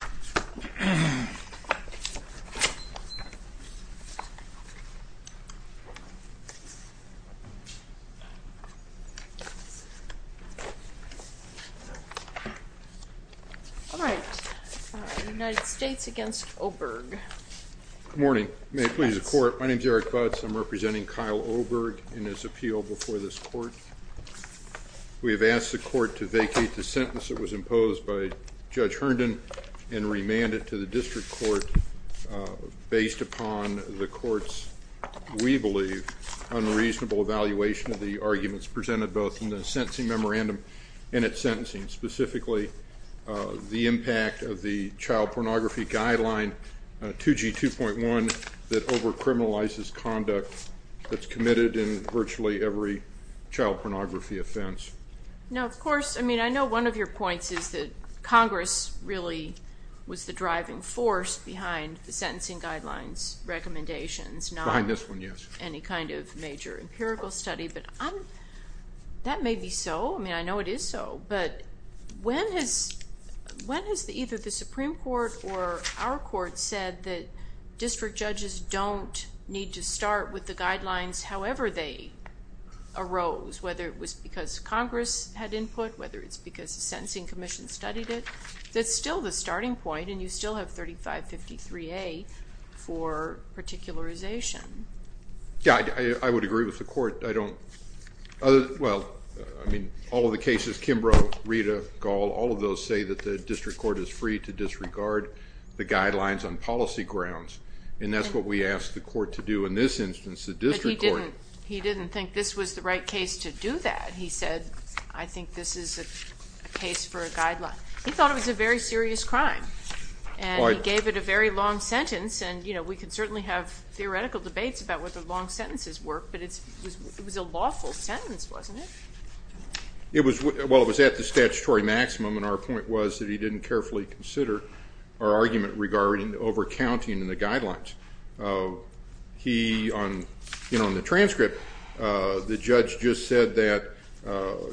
Good morning. May it please the Court, my name is Eric Butz. I'm representing Kyle Oberg in his appeal before this Court. We have asked the Court to vacate the sentence that was and remand it to the District Court based upon the Court's, we believe, unreasonable evaluation of the arguments presented both in the sentencing memorandum and at sentencing, specifically the impact of the Child Pornography Guideline 2G2.1 that over-criminalizes conduct that's committed in virtually every child pornography offense. Now, of course, I mean, I know one of your points is that Congress really was the driving force behind the sentencing guidelines recommendations, not any kind of major empirical study, but that may be so. I mean, I know it is so, but when has either the Supreme Court or our Court said that district judges don't need to start with the guidelines however they arose, whether it was because Congress had input, whether it's because the Sentencing Commission studied it, that's still the starting point and you still have 3553A for particularization. Yeah, I would agree with the Court. I don't, well, I mean, all of the cases, Kimbrough, Rita, Gall, all of those say that the District Court is free to disregard the guidelines on policy grounds, and that's what we asked the Court to do in this instance, the District Court to do that. He said, I think this is a case for a guideline. He thought it was a very serious crime, and he gave it a very long sentence, and we can certainly have theoretical debates about whether long sentences work, but it was a lawful sentence, wasn't it? It was, well, it was at the statutory maximum, and our point was that he didn't carefully consider our argument regarding over-counting in the guidelines. He, on the transcript, the judge just said that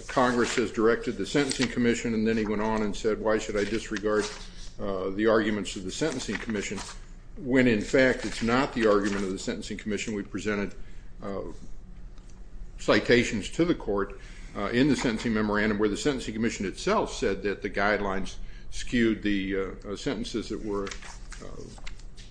Congress has directed the Sentencing Commission, and then he went on and said, why should I disregard the arguments of the Sentencing Commission, when in fact, it's not the argument of the Sentencing Commission. We presented citations to the Court in the Sentencing Memorandum where the Sentencing Commission itself said that the guidelines skewed the sentences that were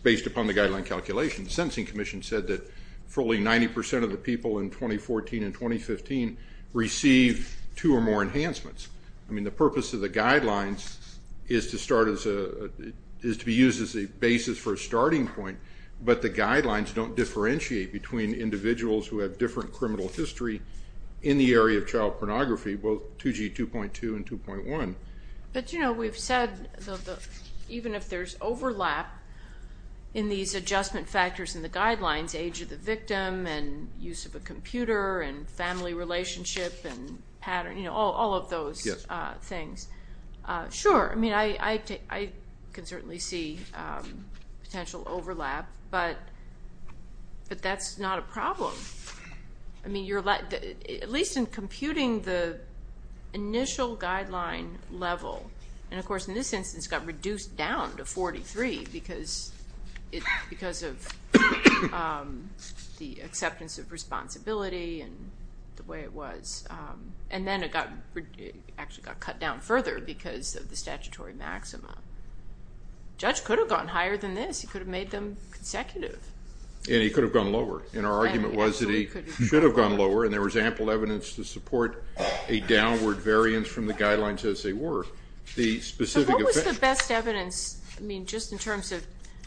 based upon the guideline calculation. The Sentencing Commission said that fully 90 percent of the people in 2014 and 2015 received two or more enhancements. I mean, the purpose of the guidelines is to start as a, is to be used as a basis for a starting point, but the guidelines don't differentiate between individuals who have different criminal history in the area of child pornography, both 2G 2.2 and 2.1. But, you know, we've said that even if there's overlap in these adjustment factors in the guidelines, age of the victim, and use of a computer, and family relationship, and pattern, you know, all of those things. Sure, I mean, I can certainly see potential overlap, but that's not a problem. I mean, at least in computing the initial guideline level, and the acceptance of responsibility, and the way it was. And then it actually got cut down further because of the statutory maxima. The judge could have gone higher than this. He could have made them consecutive. And he could have gone lower. And our argument was that he should have gone lower, and there was ample evidence to support a downward variance from the guidelines as they were. The specific effect. So what was the best evidence, I mean, just in terms of,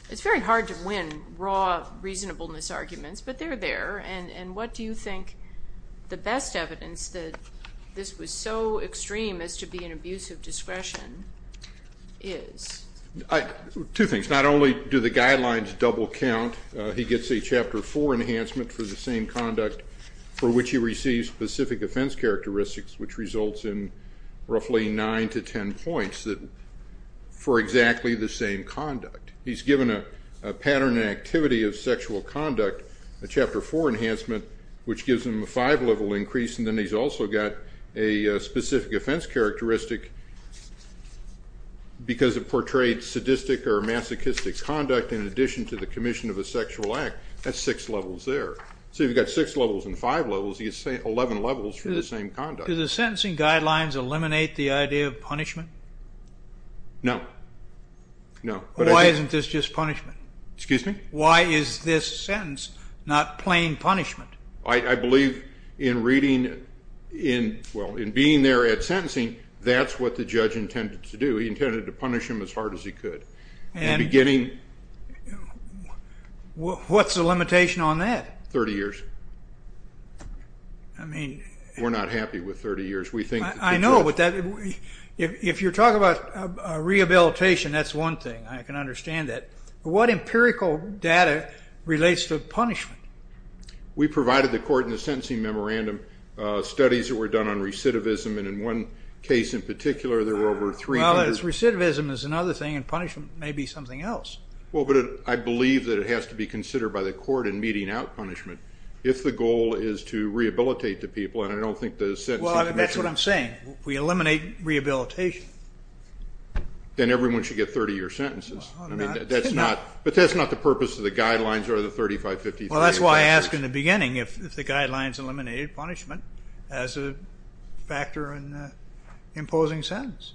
it's very hard to win raw reasonableness arguments, but they're there. And what do you think the best evidence that this was so extreme as to be an abuse of discretion is? Two things. Not only do the guidelines double count, he gets a Chapter 4 enhancement for the same conduct for which he receives specific offense characteristics, which results in roughly 9 to 10 points for exactly the same conduct. He's given a pattern and activity of sexual conduct, a Chapter 4 enhancement, which gives him a 5-level increase, and then he's also got a specific offense characteristic because it portrayed sadistic or masochistic conduct in addition to the commission of a sexual act. That's 6 levels there. So you've the idea of punishment? No. Why isn't this just punishment? Excuse me? Why is this sentence not plain punishment? I believe in reading, well, in being there at sentencing, that's what the judge intended to do. He intended to punish him as hard as he could. What's the limitation on that? 30 years. We're not happy with 30 years. I know, but if you're talking about rehabilitation, that's one thing. I can understand that. But what empirical data relates to punishment? We provided the court in the sentencing memorandum studies that were done on recidivism, and in one case in particular there were over 300. Well, recidivism is another thing, and punishment may be something else. Well, but I believe that it has to be the court in meting out punishment if the goal is to rehabilitate the people, and I don't think the sentencing commission... Well, that's what I'm saying. We eliminate rehabilitation. Then everyone should get 30-year sentences. I mean, that's not... But that's not the purpose of the guidelines or the 35-53... Well, that's why I asked in the beginning if the guidelines eliminated punishment as a factor in imposing sentence.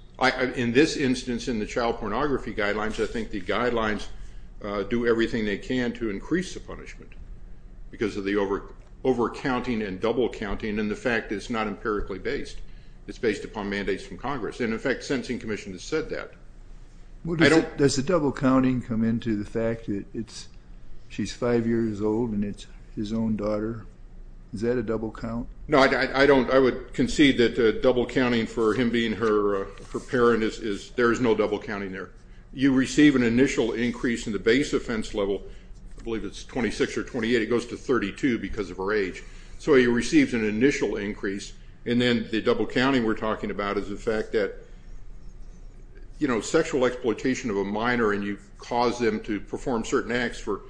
In this instance, in the child pornography guidelines, I think the guidelines do everything they can to increase the punishment because of the over-counting and double-counting, and the fact that it's not empirically based. It's based upon mandates from Congress, and in fact, the sentencing commission has said that. Does the double-counting come into the fact that she's five years old and it's his own daughter? Is that a double-count? No, I would concede that double-counting for him being her parent is... There is no double-counting there. You receive an initial increase in the base offense level. I believe it's 26 or 28. It goes to 32 because of her age. So he receives an initial increase, and then the double-counting we're talking about is the fact that sexual exploitation of a minor and you've caused them to perform certain acts for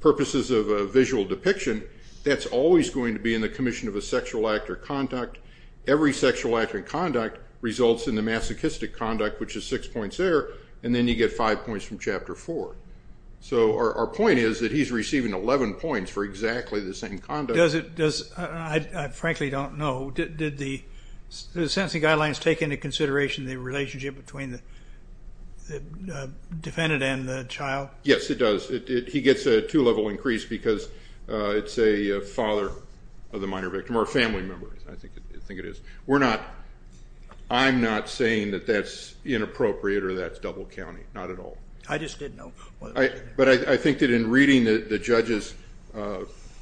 purposes of visual depiction, that's always going to be in the commission of a sexual act and conduct results in the masochistic conduct, which is six points there, and then you get five points from Chapter 4. So our point is that he's receiving 11 points for exactly the same conduct. I frankly don't know. Did the sentencing guidelines take into consideration the relationship between the defendant and the child? Yes, it does. He gets a two-level increase because it's a father of the minor victim, or a family member, I think it is. We're not... I'm not saying that that's inappropriate or that's double-counting, not at all. I just didn't know. But I think that in reading the judge's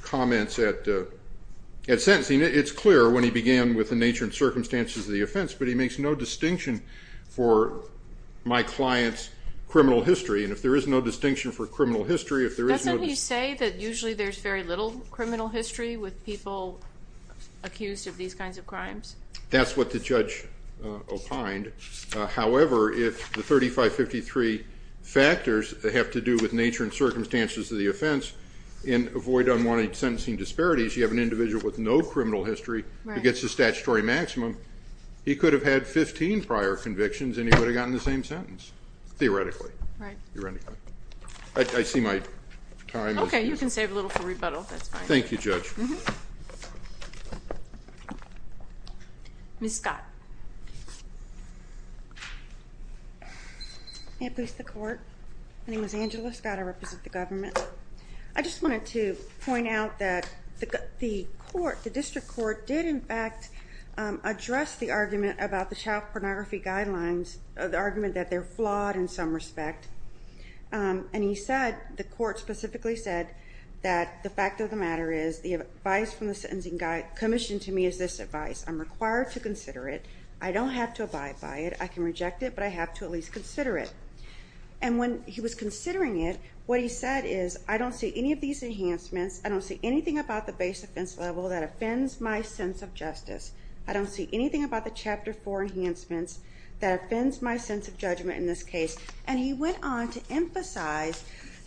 comments at sentencing, it's clear when he began with the nature and circumstances of the offense, but he makes no distinction for my client's criminal history, and if there is no distinction for criminal history, if there is no... Doesn't he say that usually there's very little criminal history with people accused of these kinds of crimes? That's what the judge opined. However, if the 3553 factors have to do with nature and circumstances of the offense, and avoid unwanted sentencing disparities, you have an individual with no criminal history who gets a statutory maximum, he could have had 15 prior convictions and he would have gotten the same sentence, theoretically. Right. I see my time is... Okay, you can save a little time for rebuttal, that's fine. Thank you, Judge. Ms. Scott. May it please the Court? My name is Angela Scott, I represent the government. I just wanted to point out that the court, the district court, did in fact address the argument about the child pornography guidelines, the argument that they're flawed in some respect, and he said, the court specifically said that the fact of the matter is, the advice from the sentencing commission to me is this advice, I'm required to consider it, I don't have to abide by it, I can reject it, but I have to at least consider it. And when he was considering it, what he said is, I don't see any of these enhancements, I don't see anything about the base offense level that offends my sense of judgment in this case. And he went on to emphasize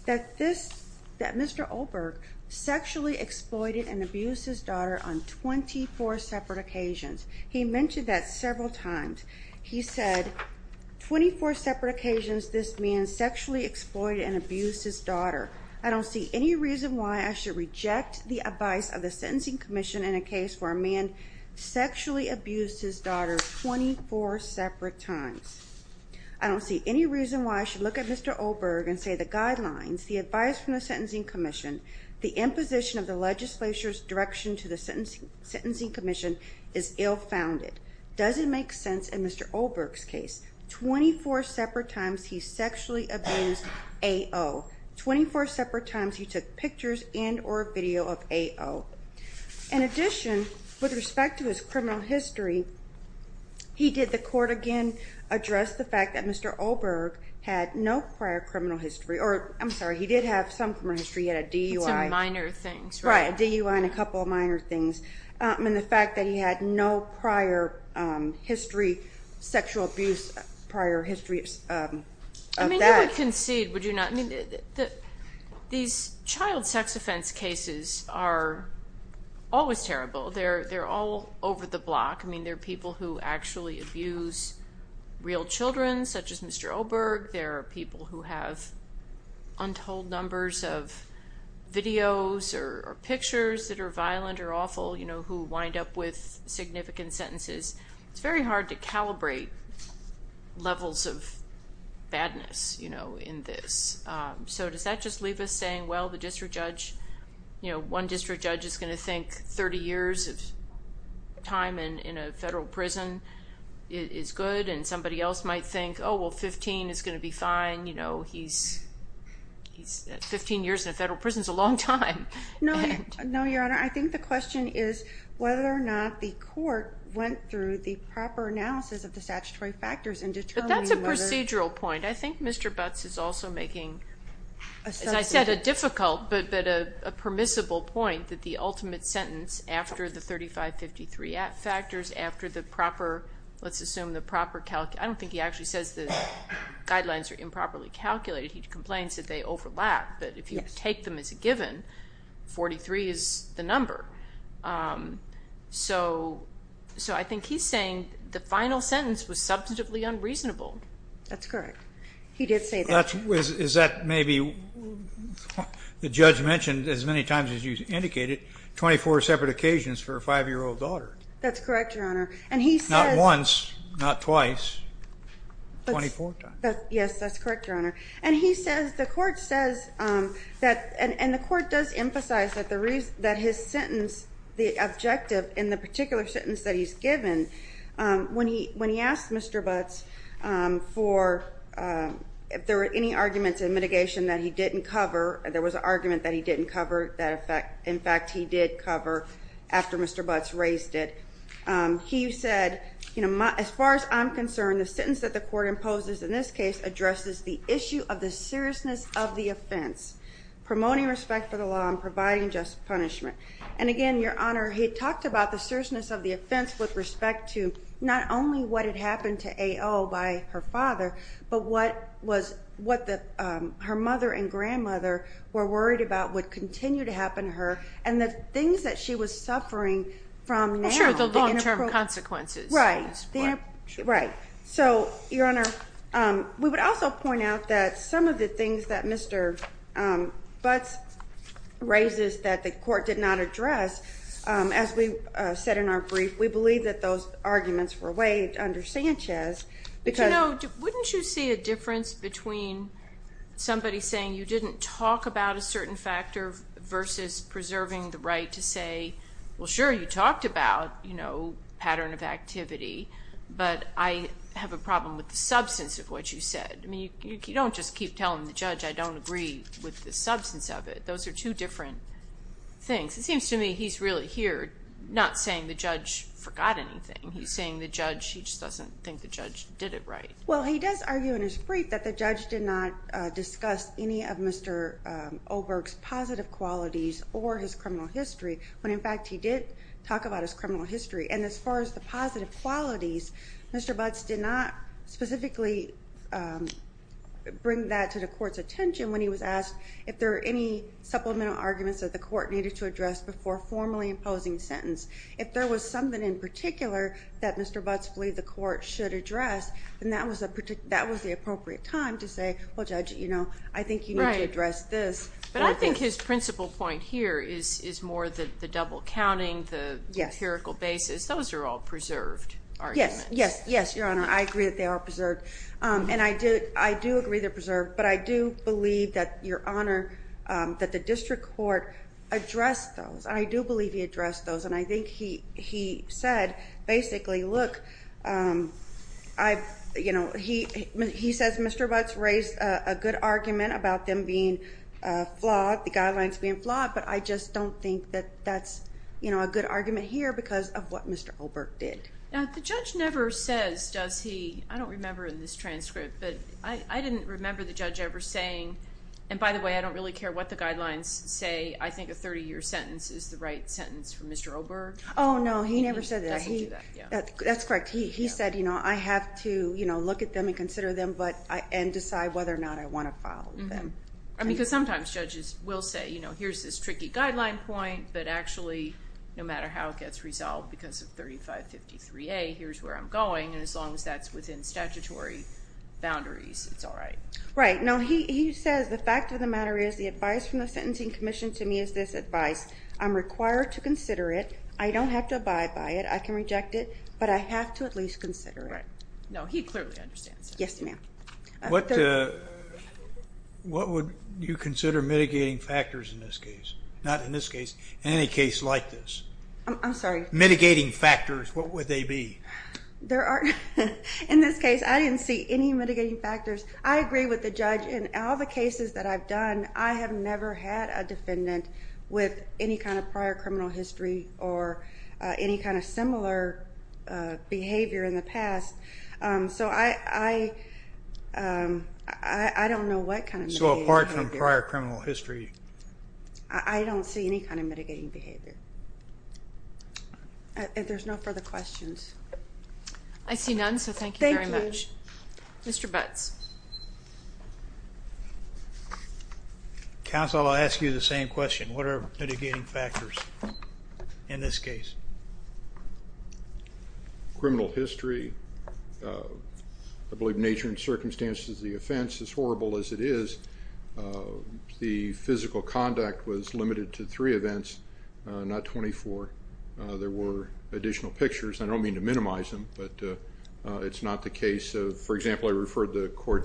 that this, that Mr. Olberg sexually exploited and abused his daughter on 24 separate occasions. He mentioned that several times. He said, 24 separate occasions this man sexually exploited and abused his daughter. I don't see any reason why I should reject the advice of the sentencing commission in a case where a man sexually abused his daughter 24 separate times. I don't see any reason why I should look at Mr. Olberg and say the guidelines, the advice from the sentencing commission, the imposition of the legislature's direction to the sentencing commission is ill-founded. Does it make sense in Mr. Olberg's case? 24 separate times he sexually abused AO. 24 separate times he took pictures and or video of AO. In addition, with respect to his criminal history, he did the court again address the fact that Mr. Olberg had no prior criminal history, or I'm sorry he did have some criminal history, he had a DUI. Some minor things. Right, a DUI and a couple of minor things. And the fact that he had no prior history, sexual abuse prior history of that. I mean you would concede, would you not? These child sex offense cases are always terrible. They're all over the block. I mean there are people who actually abuse real children, such as Mr. Olberg. There are people who have untold numbers of videos or pictures that are violent or awful, you know, who wind up with significant sentences. It's very hard to calibrate levels of badness, you know, in this. So does that just leave us saying, well, the district judge, you know, one district judge is going to think 30 years of time in a federal prison is good, and somebody else might think, oh, well 15 is going to be fine, you know, he's 15 years in a federal prison is a long time. No, Your Honor, I think the question is whether or not the court went through the proper analysis of the statutory factors in determining whether... But that's a procedural point. I think Mr. Butts is also making, as I said, a difficult but a permissible point that the ultimate sentence after the 3553 factors, after the proper, let's assume the proper, I don't think he actually says the guidelines are improperly calculated. He complains that they overlap, but if you take them as a given, 43 is the number. So I think he's saying the final sentence was substantively unreasonable. That's correct. He did say that. Is that maybe, the judge mentioned as many times as you indicated, 24 separate occasions for a 5-year-old daughter. That's correct, Your Honor, and he says... Not once, not twice, 24 times. Yes, that's correct. And the court does emphasize that his sentence, the objective in the particular sentence that he's given, when he asked Mr. Butts if there were any arguments in mitigation that he didn't cover, there was an argument that he didn't cover, in fact he did cover after Mr. Butts raised it. He said, as far as I'm concerned, the sentence that the court gave him was the sentence was the consequence of the offense. Promoting respect for the law and providing just punishment. And again, Your Honor, he talked about the seriousness of the offense with respect to not only what had happened to AO by her father, but what was, what her mother and grandmother were worried about would continue to happen to her, and the things she was suffering from now... Sure, the long-term consequences. Right. So, Your Honor, we would also point out that some of the things that Mr. Butts raises that the court did not address, as we said in our brief, we believe that those arguments were waived under Sanchez because... But you know, wouldn't you see a difference between somebody saying you didn't talk about a certain factor versus preserving the right to say, well sure you talked about, you know, pattern of activity, but I have a problem with the substance of what you said. I mean, you don't just keep telling the judge I don't agree with the substance of it. Those are two different things. It seems to me he's really here not saying the judge forgot anything. He's saying the judge, he just doesn't think the judge did it right. Well, he does argue in his brief that the judge did not discuss any of Mr. Oberg's positive qualities or his criminal history, when in fact he did talk about his criminal history. And as far as the positive qualities, Mr. Butts did not specifically bring that to the court's attention when he was asked if there were any supplemental arguments that the court needed to address before formally imposing a sentence. If there was something in particular that Mr. Butts believed the court should address, then that was the appropriate time to say, well judge, you know, I think you need to address this. But I think his principal point here is more the double counting, the empirical basis. Those are all preserved arguments. Yes, yes, yes, Your Honor. I agree that they are preserved. And I do agree they're preserved, but I do believe that, Your Honor, that the district court addressed those. I do believe he addressed those. And I think he said, basically, look, you know, he says Mr. Butts raised the good argument about them being flawed, the guidelines being flawed, but I just don't think that that's, you know, a good argument here because of what Mr. Oberg did. Now, the judge never says, does he, I don't remember in this transcript, but I didn't remember the judge ever saying, and by the way, I don't really care what the guidelines say, I think a 30-year sentence is the right sentence for Mr. Oberg. Oh, no, he never said that. He doesn't do that, yeah. That's correct. He said, you know, I have to, you know, look at them and consider them and decide whether or not I want to follow them. I mean, because sometimes judges will say, you know, here's this tricky guideline point, but actually, no matter how it gets resolved because of 3553A, here's where I'm going, and as long as that's within statutory boundaries, it's all right. Right. No, he says the fact of the matter is the advice from the Sentencing Commission to me is this advice. I'm required to consider it. I don't have to abide by it. I can reject it, but I have to at least consider it. Right. No, he clearly understands that. Yes, ma'am. What would you consider mitigating factors in this case? Not in this case, in any case like this. I'm sorry? Mitigating factors, what would they be? There aren't, in this case, I didn't see any mitigating factors. I agree with the judge in all the cases that I've done, I have never had a defendant with any kind of prior criminal history or any kind of similar behavior in the past, so I don't know what kind of mitigating behavior. So apart from prior criminal history? I don't see any kind of mitigating behavior. If there's no further questions. I see none, so thank you very much. Thank you. Mr. Butts. Counsel, I'll ask you the same question. What are mitigating factors in this case? Criminal history, I believe nature and circumstances of the offense, as horrible as it is, the physical conduct was limited to three events, not 24. There were additional pictures. I report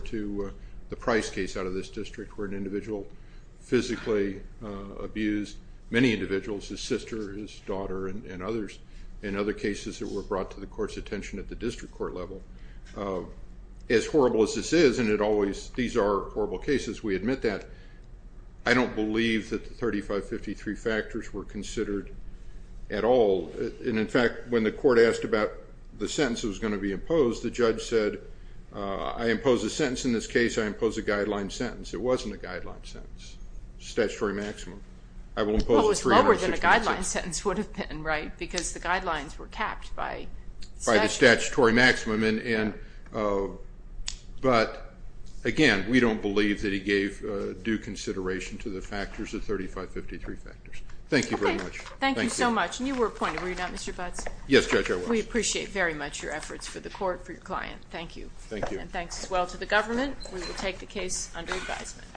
to the Price case out of this district where an individual physically abused many individuals, his sister, his daughter, and others, and other cases that were brought to the court's attention at the district court level. As horrible as this is, and it always, these are horrible cases, we admit that, I don't believe that the 3553 factors were considered at all. And in fact, when the court asked about the sentence that was going to be imposed, the sentence in this case, I impose a guideline sentence. It wasn't a guideline sentence. Statutory maximum. I will impose a 366. Well, it was lower than a guideline sentence would have been, right? Because the guidelines were capped by statute. By the statutory maximum, and, but again, we don't believe that he gave due consideration to the factors, the 3553 factors. Thank you very much. Thank you so much. And you were appointed, were you not, Mr. Butts? Yes, Judge, I was. We appreciate very much your efforts for the court, for your client. Thank you. Thank you. And again, thanks as well to the government. We will take the case under advisement.